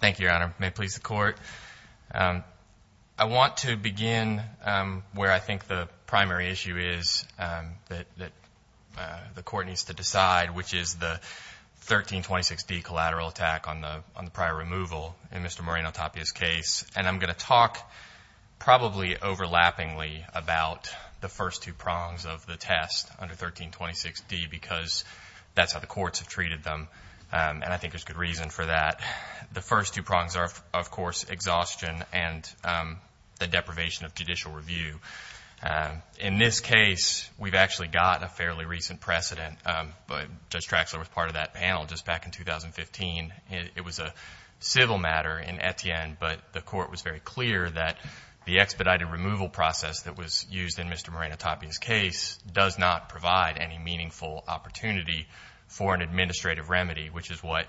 Thank you, Your Honor. May it please the Court. I want to begin where I think the primary issue is that the Court needs to decide, which is the 1326d collateral attack on the prior removal in Mr. Moreno-Tapia's case. And I'm going to talk probably overlappingly about the first two prongs of the test under 1326d because that's how the courts have treated them and I think there's good reason for that. The first two prongs are, of course, exhaustion and the deprivation of judicial review. In this case, we've actually gotten a fairly recent precedent. Judge Traxler was part of that panel just back in 2015. It was a civil matter in Etienne, but the Court was very clear that the expedited removal process that was used in Mr. Moreno-Tapia's case does not provide any meaningful opportunity for an administrative remedy, which is what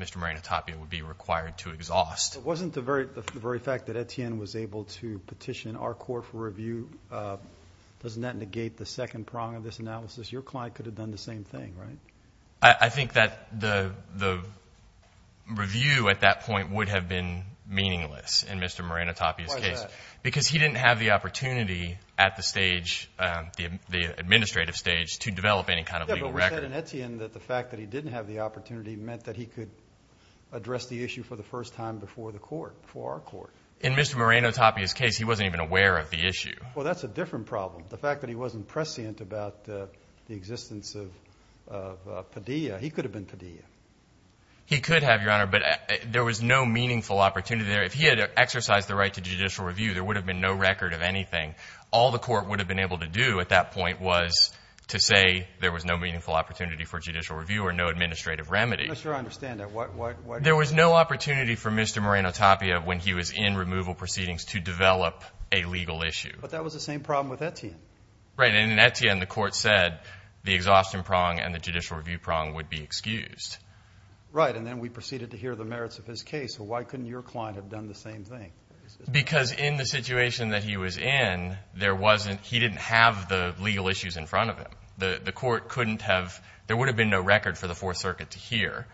Mr. Moreno-Tapia would be required to exhaust. Justice Breyer But wasn't the very fact that Etienne was able to petition our Court for review, doesn't that negate the second prong of this analysis? Your client could have done the same thing, right? Judge Traxler I think that the review at that point would have been meaningless in Mr. Moreno-Tapia's case because he didn't have the opportunity at the stage, the administrative stage, to develop any kind of legal record. Justice Breyer But he said in Etienne that the fact that he didn't have the opportunity meant that he could address the issue for the first time before the Court, before our Court. Judge Traxler In Mr. Moreno-Tapia's case, he wasn't even aware of the issue. Justice Breyer Well, that's a different problem. The fact that he wasn't prescient about the existence of Padilla, he could have been Padilla. Judge Traxler He could have, Your Honor, but there was no meaningful opportunity there. If he had exercised the right to judicial review, there would have been no record of anything. All the Court would have been able to do at that point was to say there was no meaningful opportunity for judicial review or no administrative remedy. Justice Breyer I'm not sure I understand that. Why? Judge Traxler There was no opportunity for Mr. Moreno-Tapia when he was in removal proceedings to develop a legal issue. Justice Breyer But that was the same problem with Etienne. Judge Traxler Right. And in Etienne, the Court said the exhaustion prong and the judicial review prong would be excused. Justice Breyer Right. And then we proceeded to hear the merits of his case. So why couldn't your client have done the same thing? Judge Traxler Because in the situation that he was in, he didn't have the legal issues in front of him. The Court couldn't have, there would have been no record for the Fourth Circuit to hear.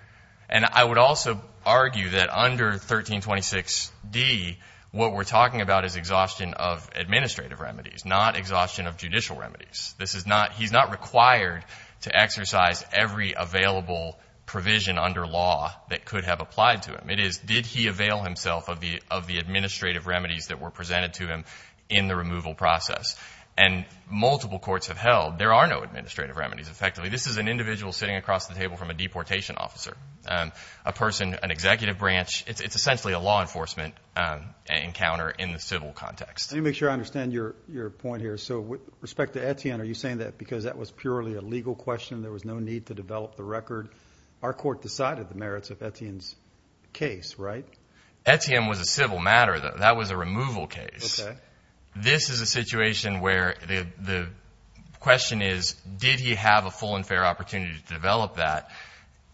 And I would also argue that under 1326d, what we're talking about is exhaustion of administrative remedies, not exhaustion of judicial remedies. This is not, he's not required to exercise every available provision under law that could have applied to him. It is, did he avail himself of the administrative remedies that were presented to him in the removal process? And multiple courts have held there are no administrative remedies. Effectively, this is an individual sitting across the table from a deportation officer, a person, an executive branch. It's essentially a law enforcement encounter in the civil context. Justice Breyer Let me make sure I understand your point here. So with respect to Etienne, are you saying that because that was purely a legal question, there was no need to develop the record? Our Court decided the merits of Etienne's case, right? Judge Traxler Etienne was a civil matter though. That was a removal case. This is a situation where the question is, did he have a full and fair opportunity to develop that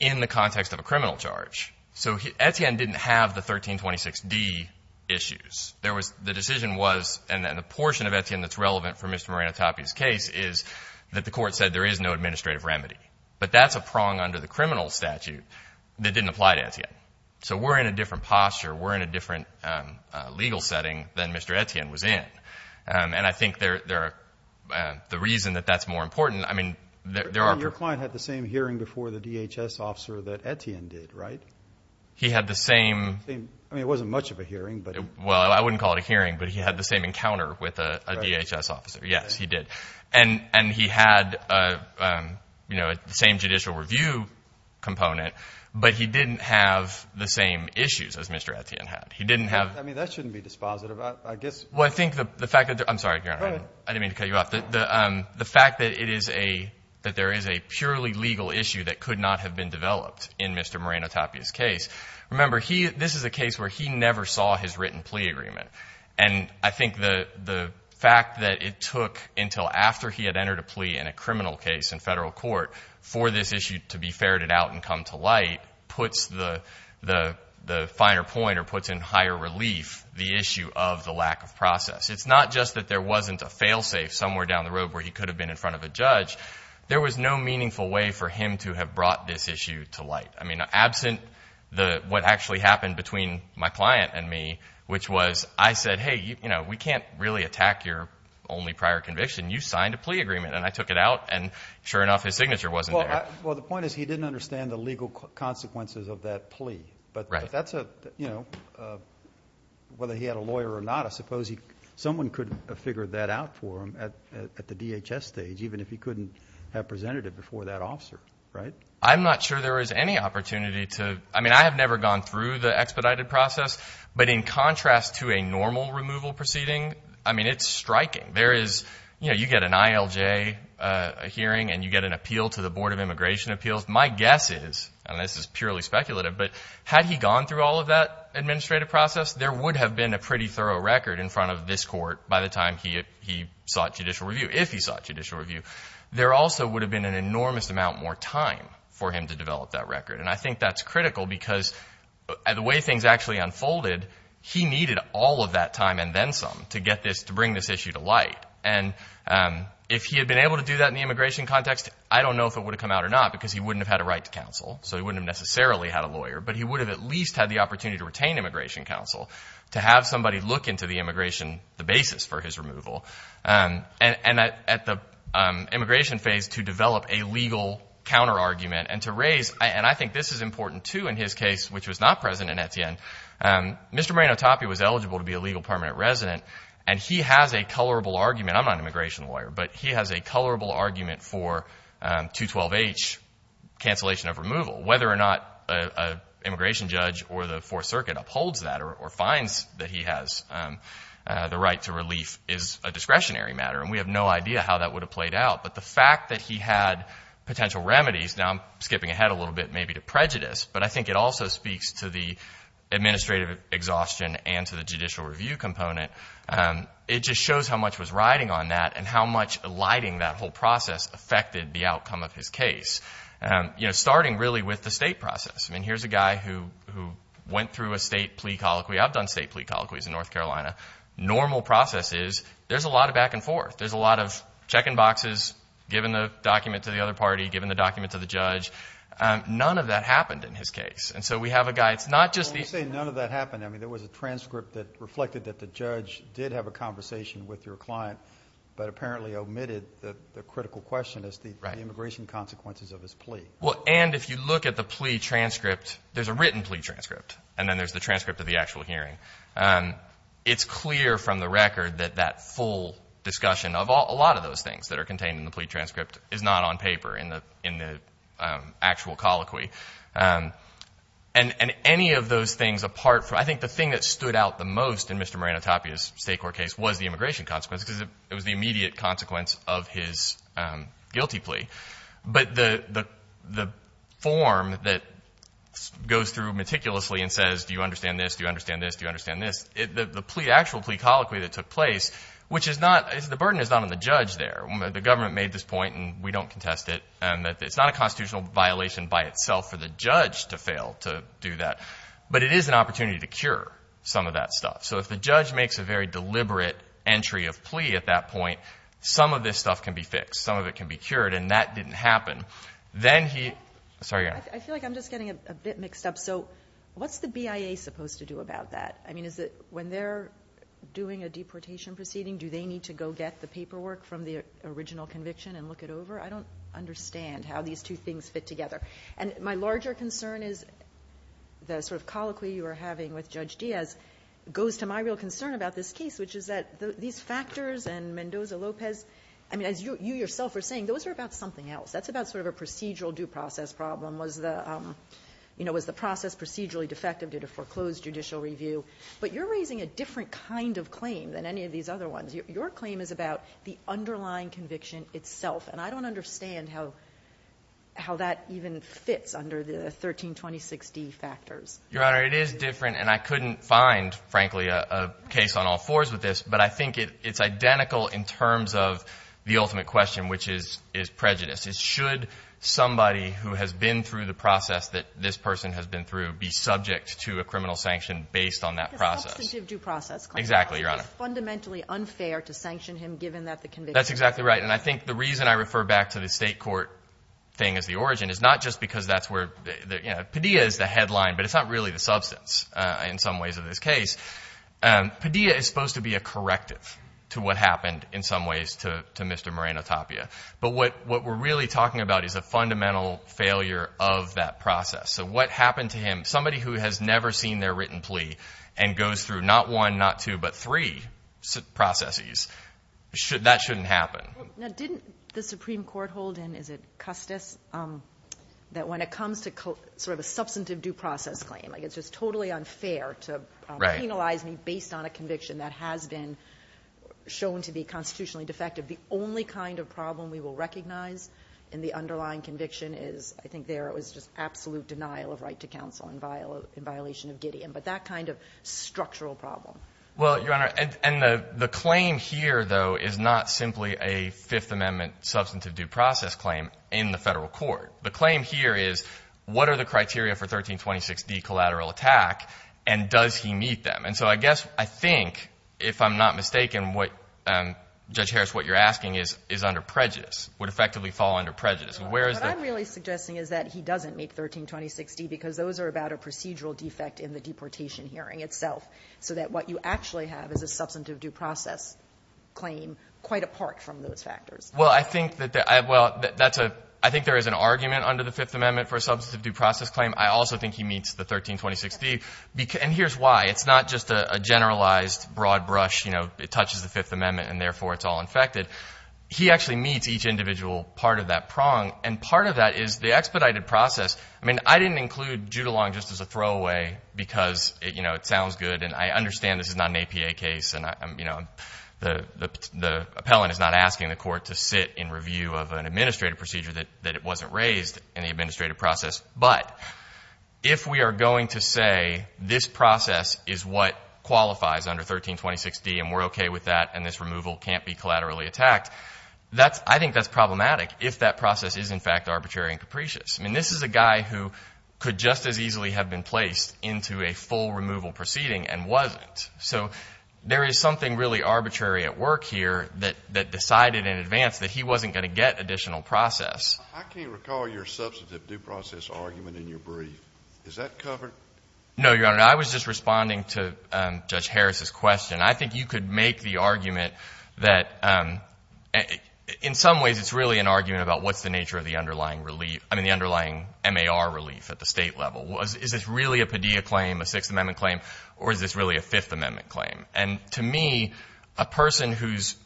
in the context of a criminal charge? So Etienne didn't have the 1326d issues. There was, the decision was, and the portion of Etienne that's relevant for Mr. Moranitopi's case is that the Court said there is no administrative remedy. But that's a prong under the criminal statute that didn't apply to Etienne. So we're in a different posture. We're in a different legal setting than Mr. Etienne was in. And I think there are, the reason that that's more important, I mean, there are... Justice Breyer Your client had the same hearing before the DHS officer that Etienne did, right? Judge Traxler He had the same... Justice Breyer I mean, it wasn't much of a hearing, but... Judge Traxler Well, I wouldn't call it a hearing, but he had the same encounter with a DHS officer. Yes, he did. And he had, you know, the same judicial review component, but he didn't have the same issues as Mr. Etienne had. He didn't have... Justice Breyer I mean, that shouldn't be dispositive. I guess... Judge Traxler Well, I think the fact that... I'm sorry, Your Honor. I didn't mean to cut you off. The fact that it is a, that there is a purely legal issue that could not have been developed in Mr. Moranitopi's case. Remember, he, this is a case where he never saw his written plea agreement. And I think the fact that it took until after he had entered a plea in a criminal case in federal court for this issue to be ferreted out and come to light puts the finer point or puts in higher relief the issue of the lack of process. It's not just that there wasn't a fail-safe somewhere down the road where he could have been in front of a judge. There was no meaningful way for him to have brought this issue to light. I mean, absent the, what actually happened between my client and me, which was, I said, hey, you know, we can't really attack your only prior conviction. You signed a plea agreement. And I took it out, and sure enough, his signature wasn't there. Justice Breyer understand the legal consequences of that plea. But that's a, you know, whether he had a lawyer or not, I suppose he, someone could have figured that out for him at the DHS stage, even if he couldn't have presented it before that officer, right? I'm not sure there is any opportunity to, I mean, I have never gone through the expedited process, but in contrast to a normal removal proceeding, I mean, it's striking. There is, you know, you get an ILJ hearing and you get an appeal to the Board of Immigration Appeals. My guess is, and this is purely speculative, but had he gone through all of that administrative process, there would have been a pretty thorough record in front of this court by the time he sought judicial review, if he sought judicial review. There also would have been an enormous amount more time for him to develop that record. And I think that's critical because the way things actually unfolded, he needed all of that time and then some to get this, to bring this issue to light. And if he had been able to do that in the immigration context, I don't know if it would have come out or not because he wouldn't have had a right to counsel, so he wouldn't have necessarily had a lawyer, but he would have at least had the opportunity to retain immigration counsel, to have somebody look into the immigration, the basis for his removal. And at the immigration phase, to develop a legal counter-argument and to raise, and I think this is important too in his case, which was not present in Etienne. Mr. Moreno-Tapia was eligible to be a legal permanent resident, and he has a colorable argument. I'm not an immigration lawyer, but he has a colorable argument for 212H, cancellation of removal. Whether or not an immigration judge or the Fourth Circuit upholds that or finds that he has the right to relief is a discretionary matter, and we have no idea how that would have played out. But the fact that he had potential remedies, now I'm skipping ahead a little bit maybe to prejudice, but I think it also speaks to the administrative exhaustion and to the judicial review component. It just shows how much was riding on that and how much alighting that whole process affected the outcome of his case. You know, starting really with the state process. I mean, here's a guy who went through a state plea colloquy. I've done state plea colloquies in North Carolina. Normal process is, there's a lot of back and forth. There's a lot of check-in boxes, giving the document to the other party, giving the document to the judge. None of that happened in his case. And so we have a guy, it's not just the... Well, when you say none of that happened, I mean, there was a transcript that reflected that the judge did have a conversation with your client, but apparently omitted the critical question as to the immigration consequences of his plea. Well, and if you look at the plea transcript, there's a written plea transcript, and then there's the transcript of the actual hearing. It's clear from the record that that full discussion of a lot of those things that are contained in the plea transcript is not on paper in the Mr. Moreno-Tapia's state court case was the immigration consequence, because it was the immediate consequence of his guilty plea. But the form that goes through meticulously and says, do you understand this? Do you understand this? Do you understand this? The plea, actual plea colloquy that took place, which is not, the burden is not on the judge there. The government made this point, and we don't contest it, and that it's not a constitutional violation by itself for the judge to fail to do that, but it is an opportunity to cure some of that stuff. So if the judge makes a very deliberate entry of plea at that point, some of this stuff can be fixed. Some of it can be cured, and that didn't happen. Then he, sorry. I feel like I'm just getting a bit mixed up. So what's the BIA supposed to do about that? I mean, is it when they're doing a deportation proceeding, do they need to go get the paperwork from the original conviction and look it over? I don't understand how these two things fit together. And my larger concern is the sort you are having with Judge Diaz goes to my real concern about this case, which is that these factors and Mendoza-Lopez, I mean, as you yourself are saying, those are about something else. That's about sort of a procedural due process problem. Was the process procedurally defective due to foreclosed judicial review? But you're raising a different kind of claim than any of these other ones. Your claim is about the underlying conviction itself, and I don't understand how that even fits under the 1326D factors. Your Honor, it is different, and I couldn't find, frankly, a case on all fours with this, but I think it's identical in terms of the ultimate question, which is prejudice. Should somebody who has been through the process that this person has been through be subject to a criminal sanction based on that process? Substantive due process. Exactly, Your Honor. Fundamentally unfair to sanction him, given that the conviction. That's exactly right. And I think the reason I refer back to the state court thing as the origin is not just because that's where, Padilla is the headline, but it's not really the substance in some ways of this case. Padilla is supposed to be a corrective to what happened in some ways to Mr. Moreno Tapia. But what we're really talking about is a fundamental failure of that process. So what happened to him, somebody who has never seen their written plea and goes through not one, not two, but three processes, that shouldn't happen. Now, didn't the Supreme Court hold in, is it Custis, that when it comes to sort of a substantive due process claim, like it's just totally unfair to penalize me based on a conviction that has been shown to be constitutionally defective. The only kind of problem we will recognize in the underlying conviction is, I think there it was just absolute denial of right to counsel in violation of Gideon, but that kind of structural problem. Well, Your Honor, and the claim here, though, is not simply a Fifth Amendment substantive due process claim in the Federal Court. The claim here is, what are the criteria for 1326D collateral attack, and does he meet them? And so I guess, I think, if I'm not mistaken, what Judge Harris, what you're asking is, is under prejudice, would effectively fall under prejudice. Where is the- What I'm really suggesting is that he doesn't make 1326D because those are about a procedural defect in the deportation hearing itself, so that what you actually have is a substantive due process claim quite apart from those factors. Well, I think that, well, that's a, I think there is an argument under the Fifth Amendment for a substantive due process claim. I also think he meets the 1326D, and here's why. It's not just a generalized broad brush, you know, it touches the Fifth Amendment, and therefore it's all infected. He actually meets each individual part of that prong, and part of that is the expedited process. I mean, I didn't include Judolong just as a throwaway because, you know, it sounds good, and I understand this is not an APA case, and I'm, you know, the, the, the appellant is not asking the court to sit in review of an administrative procedure that, that it wasn't raised in the administrative process, but if we are going to say this process is what qualifies under 1326D, and we're okay with that, and this removal can't be collaterally attacked, that's, I think that's problematic if that process is, in fact, arbitrary and capricious. I mean, this is a guy who could just as easily have been placed into a full removal proceeding and wasn't. So there is something really arbitrary at work here that, that decided in advance that he wasn't going to get additional process. I can't recall your substantive due process argument in your brief. Is that covered? No, Your Honor. I was just responding to Judge Harris' question. I think you could make the argument that, in some ways, it's really an argument about what's the nature of the underlying relief, I mean, the underlying MAR relief at the state level. Is this really a Padilla claim, a Sixth Amendment claim, or is this really a Fifth Amendment claim? And to me, a person whose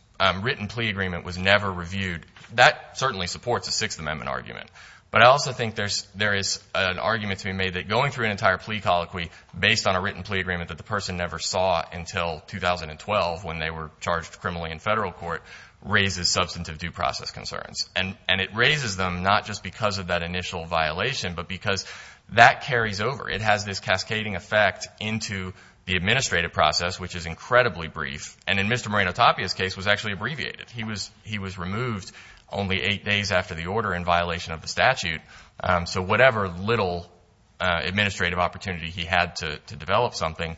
written plea agreement was never reviewed, that certainly supports a Sixth Amendment argument. But I also think there's, there is an argument to be made that going through an entire plea colloquy based on a written plea agreement that the person never saw until 2012 when they were charged criminally in federal court raises substantive due process concerns. And, and it raises them not just because of that initial violation, but because that carries over. It has this cascading effect into the administrative process, which is incredibly brief. And in Mr. Moreno-Tapia's case was actually abbreviated. He was, he was removed only eight days after the order in violation of the statute. So whatever little administrative opportunity he had to, to develop something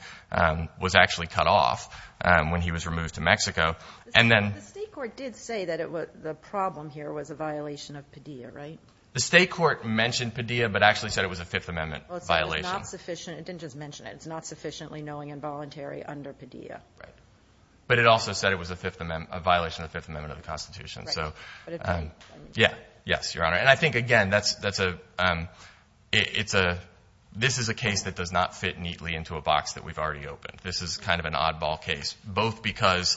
was actually cut off when he was removed to Mexico. And then. The state court did say that it was, the problem here was a violation of Padilla, right? The state court mentioned Padilla, but actually said it was a Fifth Amendment violation. Well, it said it's not sufficient. It didn't just mention it. It's not sufficiently knowing and voluntary under Padilla. Right. But it also said it was a Fifth Amendment, a violation of the Fifth Amendment of the Constitution. So. Right. But it doesn't. Yeah. Yes, Your Honor. And I think, again, that's, that's a, it's a, this is a case that does not fit neatly into a box that we've already opened. This is kind of an oddball case, both because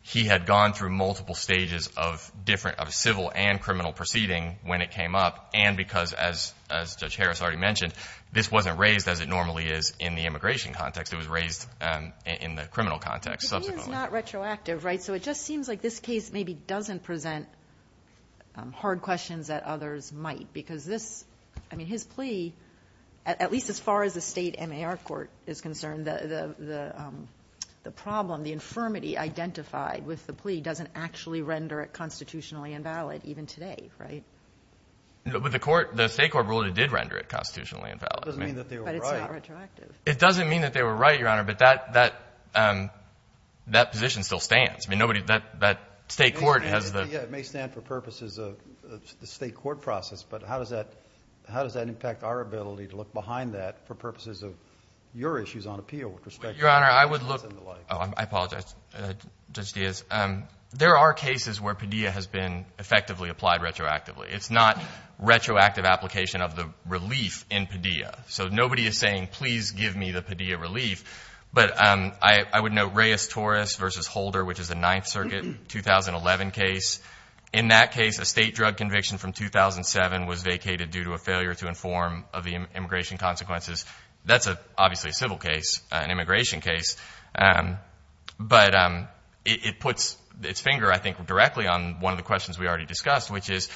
he had gone through multiple stages of different, of civil and criminal proceeding when it came up. And because as, as Judge Harris already mentioned, this wasn't raised as it normally is in the immigration context. It was raised in the criminal context. It's not retroactive, right? So it just seems like this case maybe doesn't present hard questions that others might, because this, I mean, his plea, at least as far as the state MAR court is concerned, the, the, the, the problem, the infirmity identified with the plea doesn't actually render it constitutionally invalid even today. Right. But the court, the state court rule, it did render it constitutionally invalid. It doesn't mean that they were right. But it's not retroactive. It doesn't mean that they were right, Your Honor. But that, that, that position still stands. I mean, nobody, that, that state court has the. Yeah, it may stand for purposes of the state court process, but how does that, how does that impact our ability to look behind that for purposes of your issues on appeal with respect to. Your Honor, I would look. Oh, I apologize. Judge Diaz. There are cases where Padilla has been effectively applied retroactively. It's not retroactive application of the relief in Padilla. So nobody is saying, please give me the Padilla relief. But I, I would know Reyes-Torres versus Holder, which is a ninth circuit, 2011 case. In that case, a state drug conviction from 2007 was vacated due to a failure to inform of the immigration consequences. That's obviously a civil case, an immigration case. But it puts its finger, I think, directly on one of the questions we already discussed, which is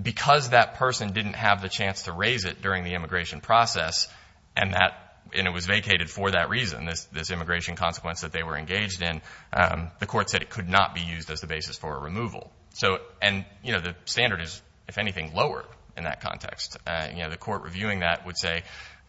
because that person didn't have the chance to raise it during the immigration process and that, and it was vacated for that reason, this, this immigration consequence that they were engaged in. The court said it could not be used as the basis for a removal. So, and, you know, the standard is, if anything, lower in that context. You know, the court reviewing that would say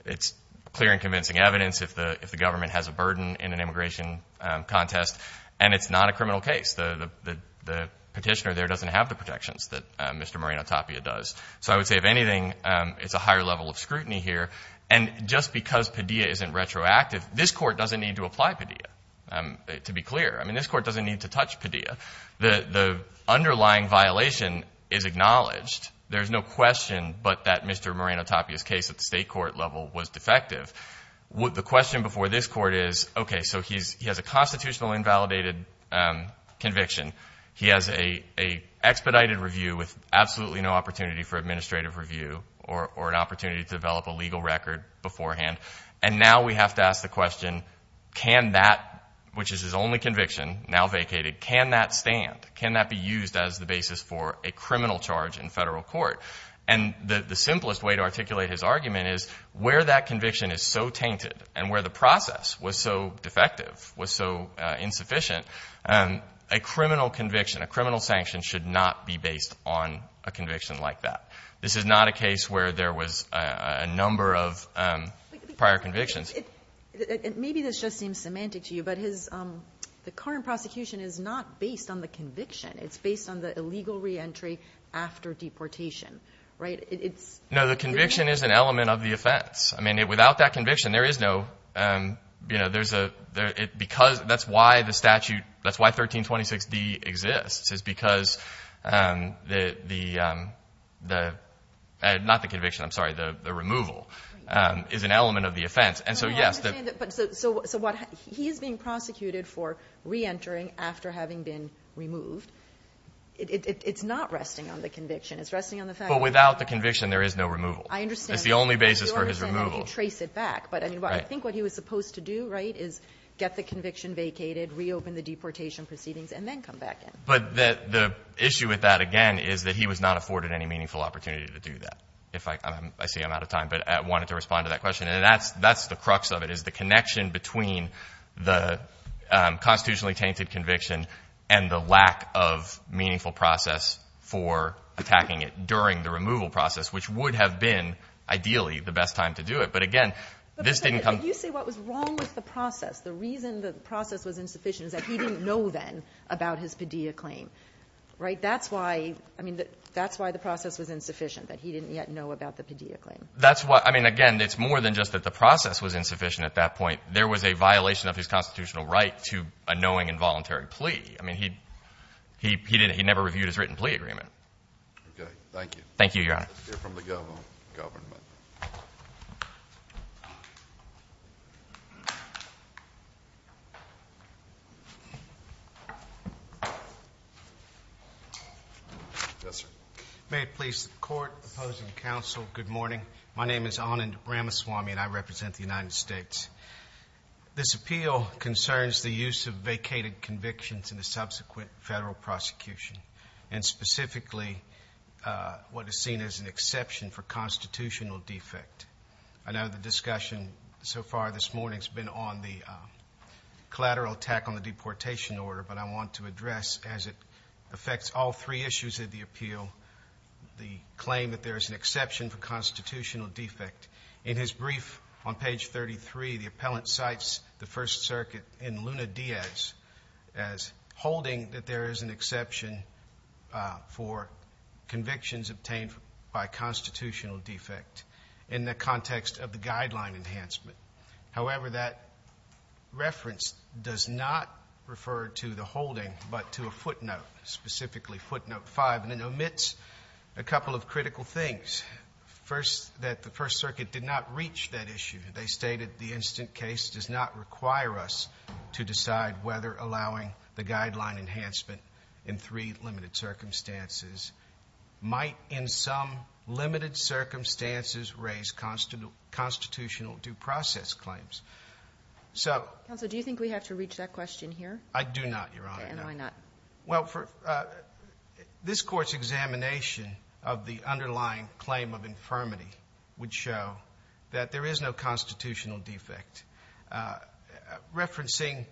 it's clear and convincing evidence if the, if the government has a burden in an immigration contest and it's not a criminal case. The, the, the, the petitioner there doesn't have the protections that Mr. Moreno-Tapia does. So I would say if anything, it's a higher level of scrutiny here. And just because Padilla isn't retroactive, this court doesn't need to apply Padilla, to be clear. I mean, this court doesn't need to touch Padilla. The, the underlying violation is acknowledged. There's no question but that Mr. Moreno-Tapia's case at the state court level was defective. The question before this court is, okay, so he's, he has a constitutional invalidated conviction. He has a, a expedited review with absolutely no opportunity for administrative review or, or an opportunity to develop a legal record beforehand. And now we have to ask the question, can that, which is his only conviction, now vacated, can that stand? Can that be used as the basis for a criminal charge in federal court? And the, the simplest way to articulate his argument is where that conviction is so tainted and where the process was so defective, was so insufficient, a criminal conviction, a criminal sanction should not be based on a conviction like that. This is not a case where there was a, a number of prior convictions. Maybe this just seems semantic to you, but his, the current prosecution is not based on the conviction. It's based on the illegal re-entry after deportation, right? It, it's No, the conviction is an element of the offense. I mean, without that conviction, there is no, you know, there's a, there, it, because, that's why the statute, that's why 1326D exists, is because the, the, the, not the conviction, I'm sorry, the, the removal is an element of the offense. And so, yes, the But I understand that, but so, so what, he is being prosecuted for re-entering after having been removed. It, it, it's not resting on the conviction. It's resting on the fact that But without the conviction, there is no removal. I understand. It's the only basis for his removal. I understand that. You can trace it back, but I mean, I think what he was supposed to do, right, is get the conviction vacated, reopen the deportation proceedings, and then come back in. But the, the issue with that, again, is that he was not afforded any meaningful opportunity to do that. If I, I'm, I see I'm out of time, but I wanted to respond to that question. And that's, that's the crux of it, is the connection between the constitutionally tainted conviction and the lack of meaningful process for attacking it during the removal process, which would have been, ideally, the best time to do it. But again, this didn't come But you say what was wrong with the process. The reason the process was insufficient is that he didn't know then about his PDEA claim, right? That's why, I mean, that's why the process was insufficient, that he didn't yet know about the PDEA claim. That's why, I mean, again, it's more than just that the process was insufficient at that point. There was a violation of his constitutional right to a knowing involuntary plea. I mean, he, he, he didn't, he never reviewed his written plea agreement. Okay. Thank you. Thank you, Your Honor. Let's hear from the government. Yes, sir. May it please the court, opposing counsel, good morning. My name is Anand Ramaswamy and I represent the United States. This appeal concerns the use of vacated convictions in the subsequent federal prosecution, and specifically what is seen as an exception for constitutional defect. I know the discussion so far this morning has been on the collateral attack on the deportation order, but I want to address, as it affects all three issues of the appeal, the claim that there is an exception for constitutional defect. In his brief on page 33, the appellant cites the First Circuit in Luna Diaz as holding that there is an exception for convictions obtained by constitutional defect in the context of constitutional defect. This is not referred to the holding, but to a footnote, specifically footnote 5, and it omits a couple of critical things. First, that the First Circuit did not reach that issue. They stated the instant case does not require us to decide whether allowing the guideline enhancement in three limited circumstances might in some limited circumstances raise constitutional due process claims. So Counsel, do you think we have to reach that question here? I do not, Your Honor. And why not? Well, this Court's examination of the underlying claim of infirmity would show that there is no constitutional defect. Referencing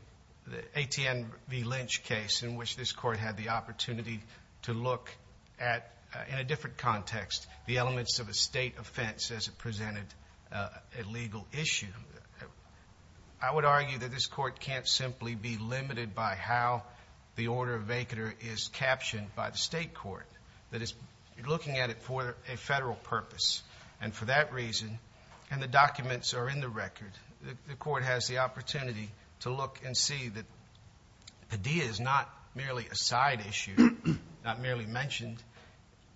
the A.T.N. v. Lynch case in which this Court had the opportunity to look at, in a different context, the elements of a state offense as presented a legal issue. I would argue that this Court can't simply be limited by how the order of vacatur is captioned by the state court, that it's looking at it for a federal purpose. And for that reason, and the documents are in the record, the Court has the opportunity to look and see that Padilla is not merely a side issue, not merely mentioned.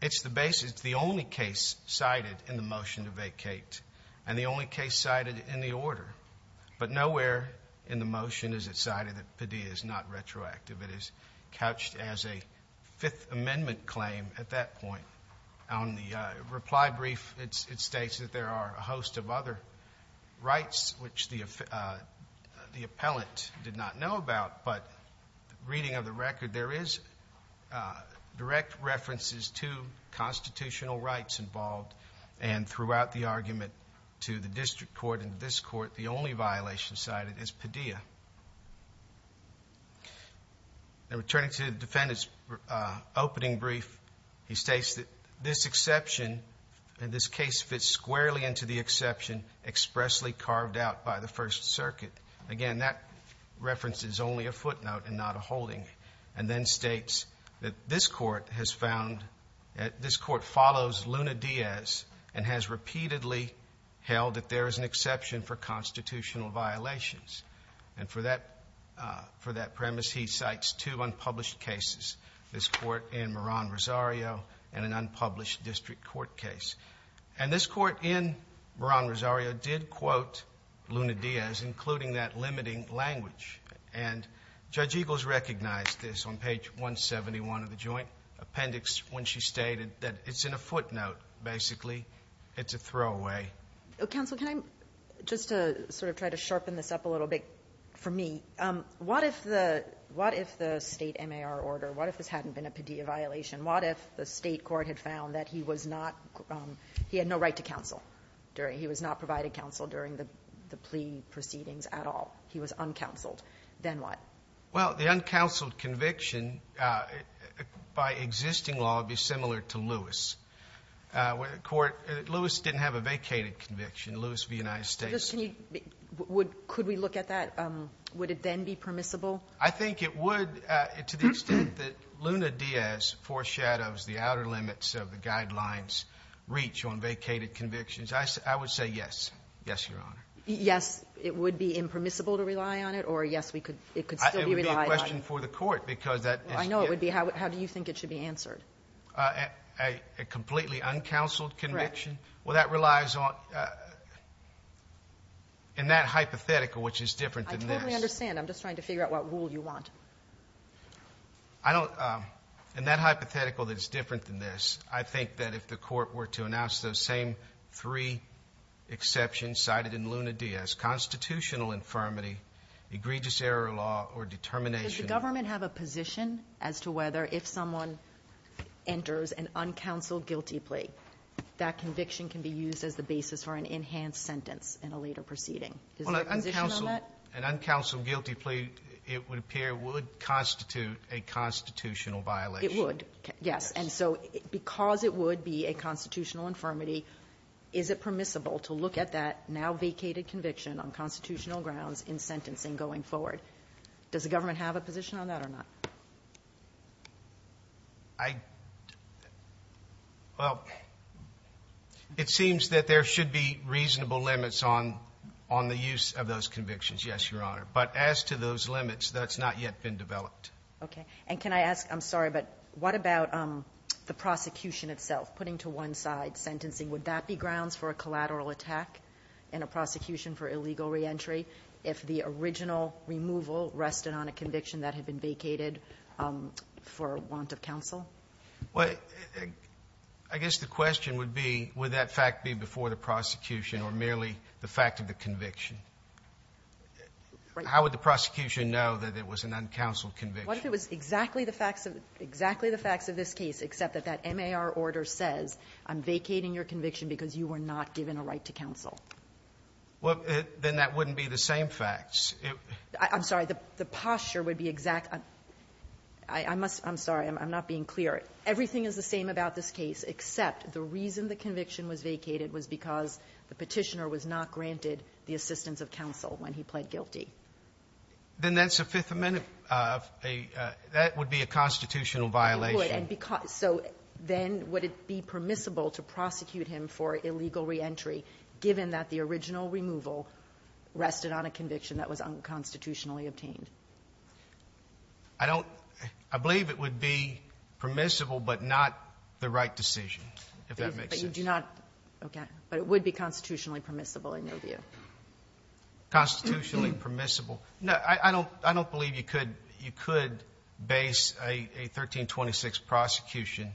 It's the only case cited in the motion to vacate, and the only case cited in the order. But nowhere in the motion is it cited that Padilla is not retroactive. It is couched as a Fifth Amendment claim at that point. On the reply brief, it states that there are a host of other rights, which the appellant did not know about. But reading of the record, there is direct references to constitutional rights involved. And throughout the argument to the District Court and this Court, the only violation cited is Padilla. Now, returning to the defendant's opening brief, he states that this exception, and this case fits squarely into the exception expressly carved out by the First Circuit. Again, that reference is only a footnote and not a holding. And then states that this Court has found that this Court follows Luna-Diaz and has repeatedly held that there is an exception for constitutional violations. And for that premise, he cites two unpublished cases, this Court in Moran-Rosario and an unpublished District Court case. And this Court in Moran-Rosario did quote Luna-Diaz, including that limiting language. And Judge Eagles recognized this on page 171 of the Joint Appendix when she stated that it's in a footnote, basically. It's a throwaway. Counsel, can I just sort of try to sharpen this up a little bit for me? What if the State MAR order, what if this hadn't been a Padilla violation? What if the State Court had found that he was not, he had no right to counsel, he was not provided counsel during the plea proceedings at all? He was uncounseled. Then what? Well, the uncounseled conviction by existing law would be similar to Lewis. Lewis didn't have a vacated conviction, Lewis v. United States. Could we look at that? Would it then be permissible? I think it would, to the extent that Luna-Diaz foreshadows the outer limits of the guidelines reach on vacated convictions, I would say yes. Yes, Your Honor. Yes, it would be impermissible to rely on it, or yes, it could still be relied on? It would be a question for the Court, because that is the issue. I know it would be. How do you think it should be answered? A completely uncounseled conviction? Correct. Well, that relies on, in that hypothetical, which is different than this. I don't understand. I'm just trying to figure out what rule you want. I don't, in that hypothetical that is different than this, I think that if the Court were to announce those same three exceptions cited in Luna-Diaz, constitutional infirmity, egregious error of law, or determination of law. Does the government have a position as to whether, if someone enters an uncounseled guilty plea, that conviction can be used as the basis for an enhanced sentence in a later proceeding? Is there a position on that? An uncounseled guilty plea, it would appear, would constitute a constitutional violation. It would, yes. And so, because it would be a constitutional infirmity, is it permissible to look at that now vacated conviction on constitutional grounds in sentencing going forward? Does the government have a position on that or not? I, well, it seems that there should be reasonable limits on the use of those convictions. Yes, Your Honor. But as to those limits, that's not yet been developed. Okay. And can I ask, I'm sorry, but what about the prosecution itself, putting to one side sentencing? Would that be grounds for a collateral attack in a prosecution for illegal reentry if the original removal rested on a conviction that had been vacated for want of counsel? Well, I guess the question would be, would that fact be before the prosecution or merely the fact of the conviction? How would the prosecution know that it was an uncounseled conviction? What if it was exactly the facts of this case, except that that MAR order says, I'm vacating your conviction because you were not given a right to counsel? Well, then that wouldn't be the same facts. I'm sorry. The posture would be exact. I must, I'm sorry, I'm not being clear. Everything is the same about this case, except the reason the conviction was vacated was because the petitioner was not granted the assistance of counsel when he pled guilty. Then that's a Fifth Amendment, that would be a constitutional violation. It would. So then would it be permissible to prosecute him for illegal reentry, given that the original removal rested on a conviction that was unconstitutionally obtained? I don't, I believe it would be permissible, but not the right decision, if that makes sense. But you do not, okay. But it would be constitutionally permissible, in your view. Constitutionally permissible. No, I don't, I don't believe you could, you could base a 1326 prosecution,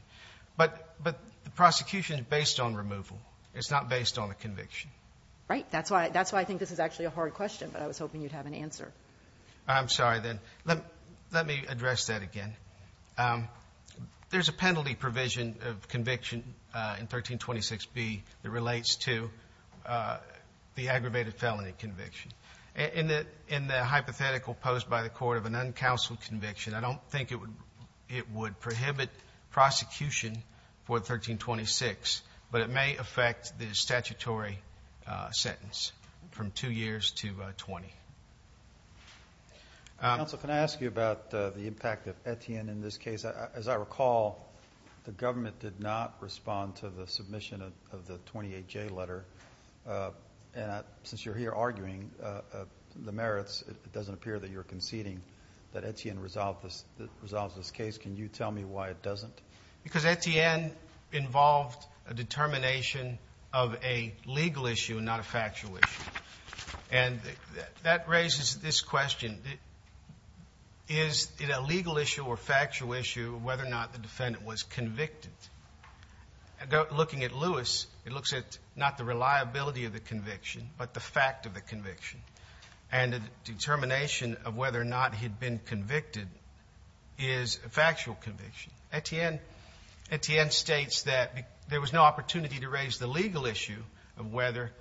but, but the prosecution is based on removal. It's not based on a conviction. Right. That's why, that's why I think this is actually a hard question, but I was hoping you'd have an answer. I'm sorry then. Let me address that again. There's a penalty provision of conviction in 1326B that relates to the aggravated felony conviction. In the, in the hypothetical posed by the court of an uncounseled conviction, I don't think it would, it would prohibit prosecution for 1326, but it may affect the statutory sentence from two years to 20. Counsel, can I ask you about the impact of Etienne in this case? As I recall, the defendant did respond to the submission of the 28J letter, and since you're here arguing the merits, it doesn't appear that you're conceding that Etienne resolved this, resolves this case. Can you tell me why it doesn't? Because Etienne involved a determination of a legal issue, not a factual issue. And that raises this question. Is it a legal issue or factual issue whether or not the looking at Lewis, it looks at not the reliability of the conviction, but the fact of the conviction. And the determination of whether or not he'd been convicted is a factual conviction. Etienne, Etienne states that there was no opportunity to raise the legal issue of whether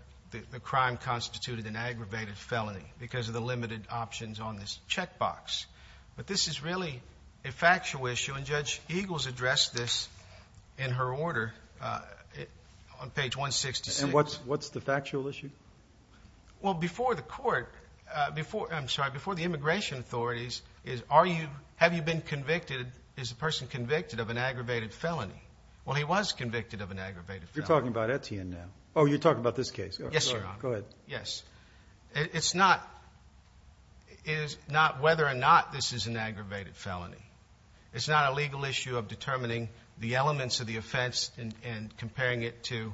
the crime constituted an aggravated felony because of the limited options on this check box. But this is really a factual issue, and Judge Eagles addressed this in her order on page 166. What's the factual issue? Well, before the court, I'm sorry, before the immigration authorities, is have you been convicted, is the person convicted of an aggravated felony? Well, he was convicted of an aggravated felony. You're talking about Etienne now. Oh, you're talking about this case. Yes, Your Honor. Go ahead. Yes. It's not whether or not this is an aggravated felony. It's not a legal issue of determining the elements of the offense and comparing it to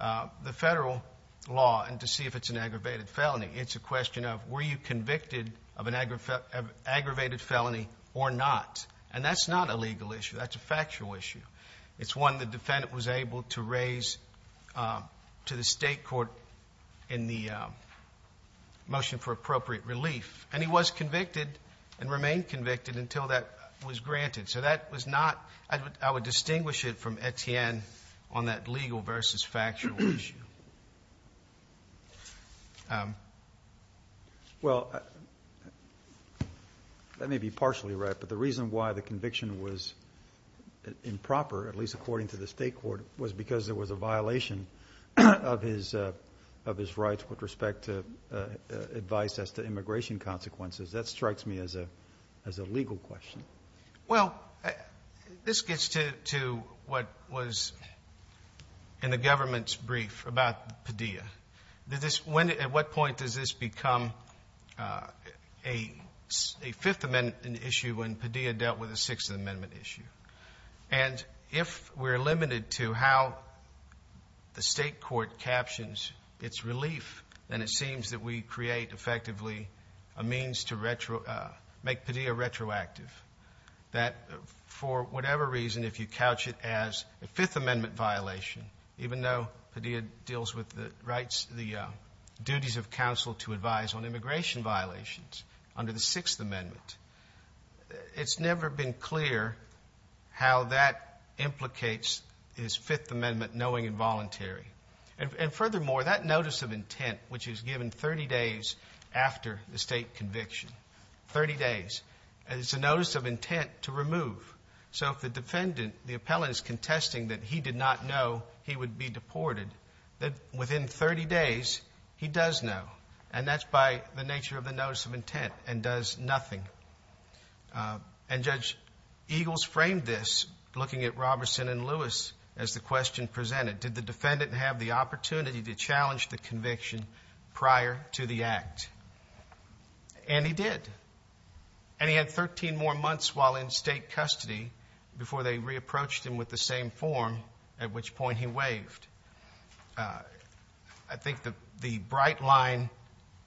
the federal law and to see if it's an aggravated felony. It's a question of were you convicted of an aggravated felony or not? And that's not a legal issue. That's a factual issue. It's one the defendant was able to in the motion for appropriate relief, and he was convicted and remained convicted until that was granted. So that was not, I would distinguish it from Etienne on that legal versus factual issue. Well, that may be partially right, but the reason why the conviction was improper, at least because there was a violation of his rights with respect to advice as to immigration consequences, that strikes me as a legal question. Well, this gets to what was in the government's brief about Padilla. At what point does this become a Fifth Amendment issue when Padilla dealt with a Sixth Amendment issue? And if we're limited to how the state court captions its relief, then it seems that we create effectively a means to make Padilla retroactive. That for whatever reason, if you couch it as a Fifth Amendment violation, even though Padilla deals with the duties of counsel to advise on immigration violations under the Sixth Amendment, it's never been clear how that implicates his Fifth Amendment knowing involuntary. And furthermore, that notice of intent, which is given 30 days after the state conviction, 30 days, and it's a notice of intent to remove. So if the defendant, the appellant is contesting that he did not know he would be deported, that within 30 days he does know. And that's by the nature of the notice of intent and does nothing. And Judge Eagles framed this looking at Roberson and Lewis as the question presented. Did the defendant have the opportunity to challenge the conviction prior to the act? And he did. And he had 13 more months while in state custody before they re-approached him with the same form, at which point he waived. I think the bright line,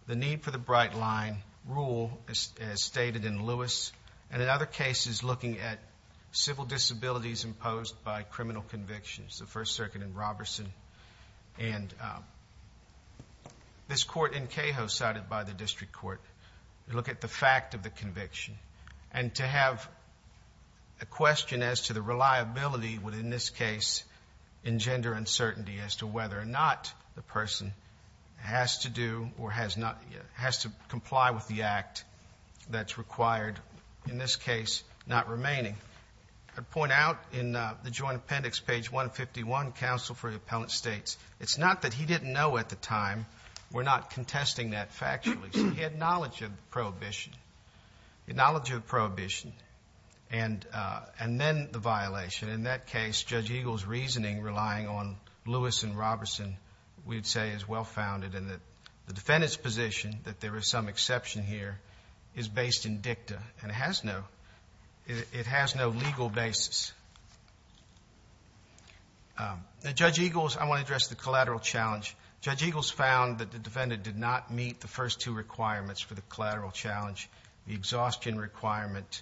the need for the bright line rule as stated in Lewis, and in other cases looking at civil disabilities imposed by criminal convictions, the First Circuit and Roberson, and this court in Caho cited by the District Court, look at the fact of the conviction. And to have a question as to the reliability within this case in gender uncertainty as to whether or not the person has to do or has to comply with the act that's required, in this case, not remaining. I'd point out in the Joint Appendix, page 151, counsel for the appellant states, it's not that he didn't know at the time. We're not contesting that factually. He had knowledge of the prohibition. And then the violation. In that case, Judge Eagles' reasoning relying on Lewis and Roberson, we'd say is well-founded. And the defendant's position that there is some exception here is based in dicta. And it has no legal basis. Judge Eagles, I want to address the collateral challenge. Judge Eagles found that the defendant did not meet the first two requirements for the collateral challenge, the exhaustion requirement.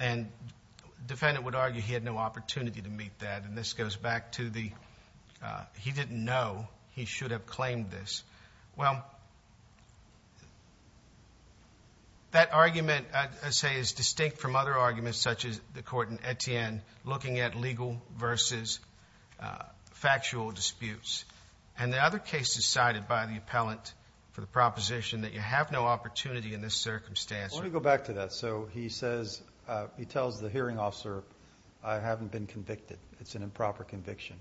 And the defendant would argue he had no opportunity to meet that. And this goes back to the, he didn't know he should have claimed this. Well, that argument, I'd say, is distinct from other arguments such as the court in Etienne looking at legal versus factual disputes. And the other case decided by the appellant for the proposition that you have no opportunity in this circumstance. Let me go back to that. So he says, he tells the hearing officer, I haven't been convicted. It's an improper conviction.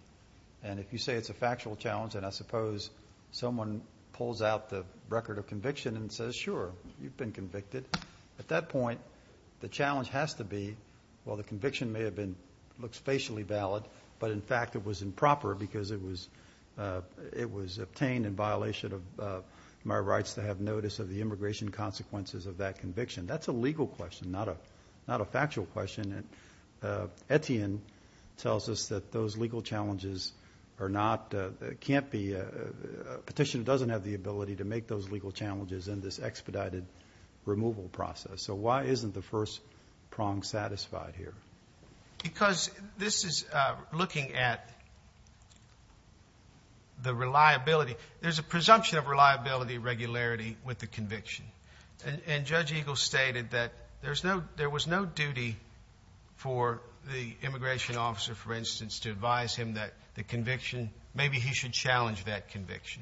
And if you say it's a factual challenge, and I suppose someone pulls out the record of conviction and says, sure, you've been convicted. At that point, the challenge has to be, well, the conviction may have been, looks facially valid, but in fact it was improper because it was obtained in violation of my rights to have notice of the immigration consequences of that conviction. That's a legal question, not a factual question. Etienne tells us that those legal challenges are not, can't be, a petitioner doesn't have the ability to make those legal challenges in this expedited removal process. So why isn't the first prong satisfied here? Because this is looking at the reliability. There's a presumption of reliability, regularity with the conviction. And Judge Eagle stated that there was no duty for the immigration officer, for instance, to advise him that the conviction, maybe he should challenge that conviction.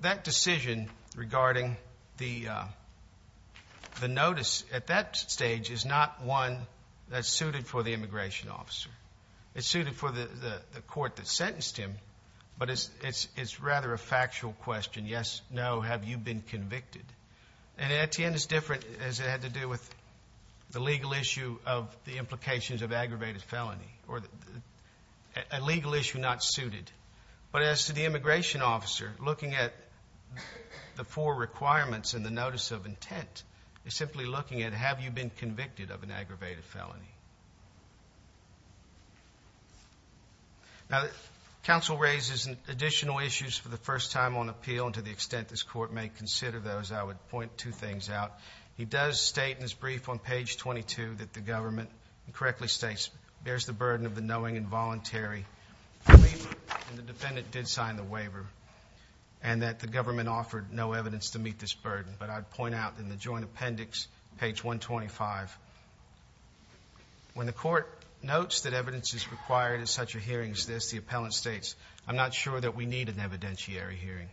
That decision regarding the notice at that stage is not one that's suited for the immigration officer. It's suited for the court that sentenced him, but it's rather a factual question. Yes, no, have you been convicted? And Etienne is different, as it had to do with the legal issue of the implications of aggravated felony, or a legal issue not suited. But as to the immigration officer, looking at the four requirements and the notice of intent is simply looking at, have you been convicted of an aggravated felony? Now, the counsel raises additional issues for the first time on appeal, and to the extent this court may consider those, I would point two things out. He does state in his brief on page 22 that the government, and correctly states, bears the burden of the knowing and voluntary belief that the defendant did sign the waiver, and that the government offered no evidence to meet this burden. But I'd point out in the joint appendix, page 125, when the court notes that evidence is required in such a hearing as this, the appellant states, I'm not sure that we need an evidentiary hearing.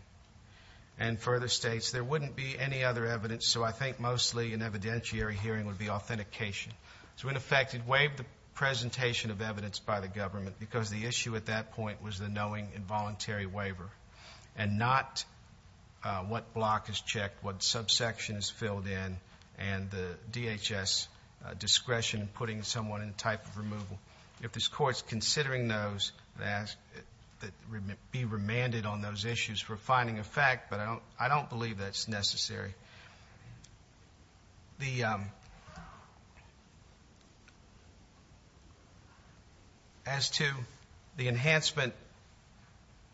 And further states, there wouldn't be any other evidence, so I think mostly an evidentiary hearing would be authentication. So, in effect, it waived the presentation of evidence by the government, because the issue at that point is what block is checked, what subsection is filled in, and the DHS discretion in putting someone in type of removal. If this court's considering those, be remanded on those issues for finding a fact, but I don't believe that's necessary. As to the enhancement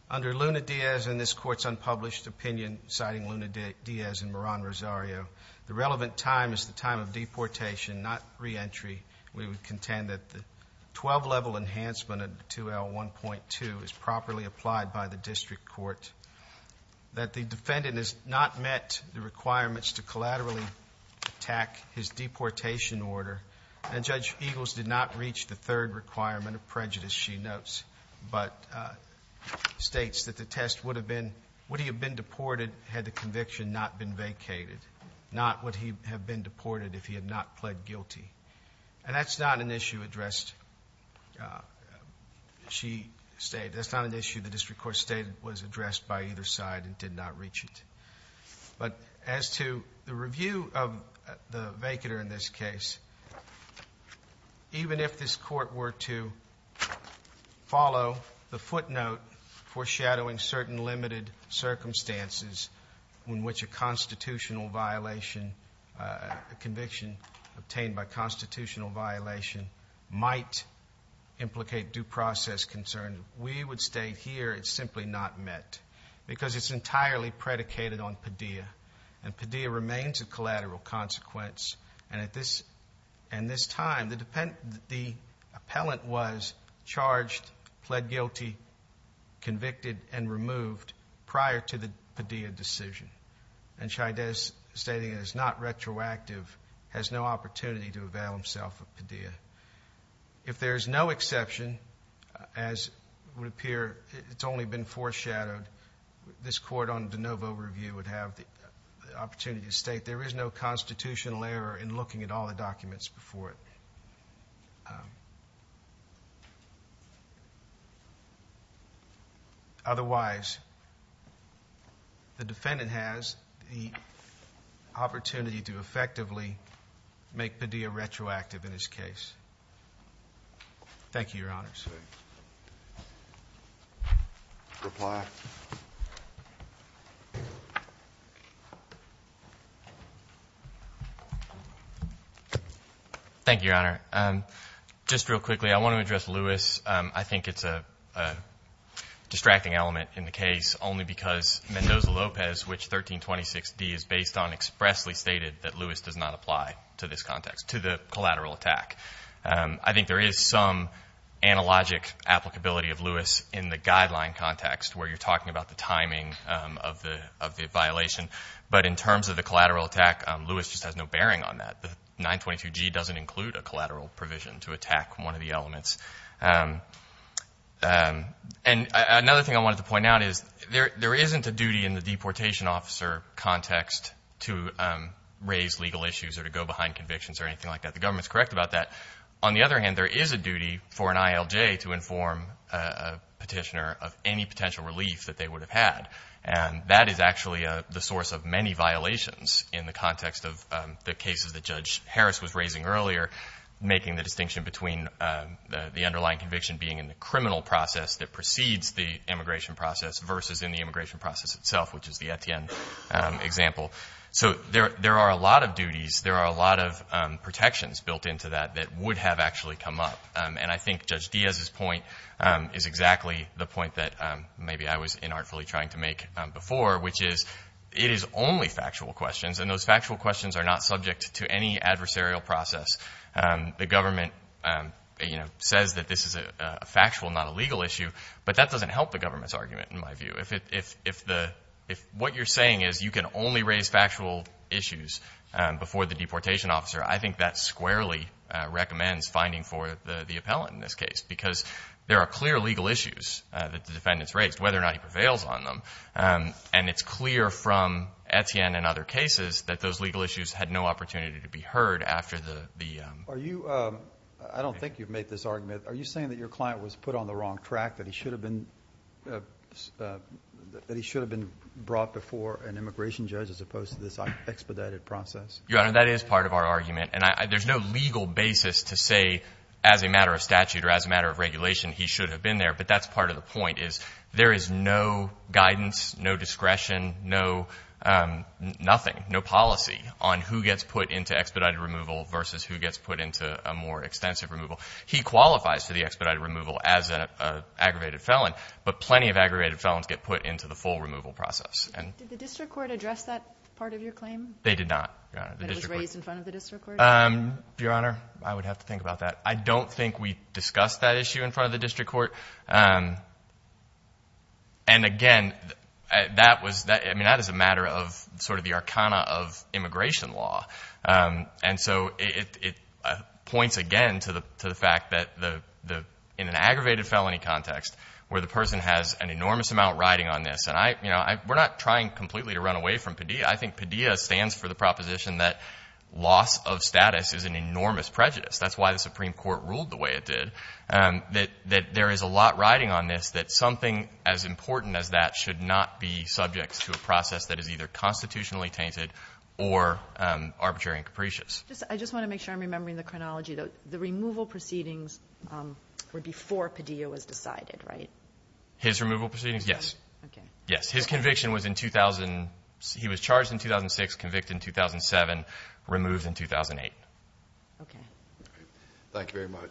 under Luna-Diaz and this court's unpublished opinion, citing Luna-Diaz and Moran-Rosario, the relevant time is the time of deportation, not re-entry. We would contend that the 12-level enhancement of 2L1.2 is properly applied by the district court. That the defendant has not met the requirements to collaterally attack his deportation order, and Judge Eagles did not reach the third requirement of prejudice, she notes, but states that the test would have been, would he have been deported had the conviction not been vacated, not would he have been deported if he had not pled guilty. And that's not an issue addressed, she stated, that's not an issue the district court stated was addressed by either side and did not reach it. But as to the review of the vacater in this case, even if this court were to follow the footnote foreshadowing certain limited circumstances in which a constitutional violation, a conviction obtained by constitutional violation, might implicate due process concerns, we would state here it's simply not met. Because it's entirely predicated on Padilla, and Padilla remains a collateral consequence, and at this time the appellant was charged, pled guilty, convicted, and removed prior to the Padilla decision. And Chaidez, stating it is not retroactive, has no opportunity to avail himself of Padilla. If there is no exception, as would appear it's only been foreshadowed, this court on de novo review would have the opportunity to state there is no constitutional error in looking at all the documents before it. Otherwise, the defendant has the opportunity to effectively make Padilla retroactive in this case. Thank you, your honors. Thank you, your honor. Just real quickly, I want to address Lewis. I think it's a distracting element in the case only because Mendoza-Lopez, which 1326d is based on, expressly stated that to the collateral attack. I think there is some analogic applicability of Lewis in the guideline context where you're talking about the timing of the violation. But in terms of the collateral attack, Lewis just has no bearing on that. The 922G doesn't include a collateral provision to attack one of the elements. And another thing I wanted to point out is there isn't a duty in the government to inform a petitioner of any potential relief that they would have had. And that is actually the source of many violations in the context of the cases that Judge Harris was raising earlier, making the distinction between the underlying conviction being in the criminal process that precedes the immigration process versus in the immigration process itself, which is the Etienne example. So there are a lot of duties. There are a lot of protections built into that that would have actually come up. And I think Judge Diaz's point is exactly the point that maybe I was inartfully trying to make before, which is it is only factual questions. And those factual questions are not subject to any adversarial process. The government says that this is a If what you're saying is you can only raise factual issues before the deportation officer, I think that squarely recommends finding for the appellant in this case, because there are clear legal issues that the defendant's raised, whether or not he prevails on them. And it's clear from Etienne and other cases that those legal issues had no opportunity to be heard after the Are you, I don't think you've made this argument, are you saying that your client was put on the brought before an immigration judge as opposed to this expedited process? Your Honor, that is part of our argument. And there's no legal basis to say as a matter of statute or as a matter of regulation, he should have been there. But that's part of the point is there is no guidance, no discretion, no nothing, no policy on who gets put into expedited removal versus who gets put into a more extensive removal. He qualifies for the expedited removal as an aggravated felons get put into the full removal process. Did the district court address that part of your claim? They did not, Your Honor. But it was raised in front of the district court? Your Honor, I would have to think about that. I don't think we discussed that issue in front of the district court. And again, that was, I mean, that is a matter of sort of the arcana of immigration law. And so it points again to the fact that in an aggravated felony context, where the person has an enormous amount riding on this, and I, you know, we're not trying completely to run away from Padilla. I think Padilla stands for the proposition that loss of status is an enormous prejudice. That's why the Supreme Court ruled the way it did, that there is a lot riding on this, that something as important as that should not be subject to a process that is either constitutionally tainted or arbitrary and capricious. I just want to make sure I'm remembering the chronology. The removal proceedings were before Padilla was decided, right? His removal proceedings? Yes. Yes. His conviction was in 2000. He was charged in 2006, convicted in 2007, removed in 2008. Okay. Thank you very much.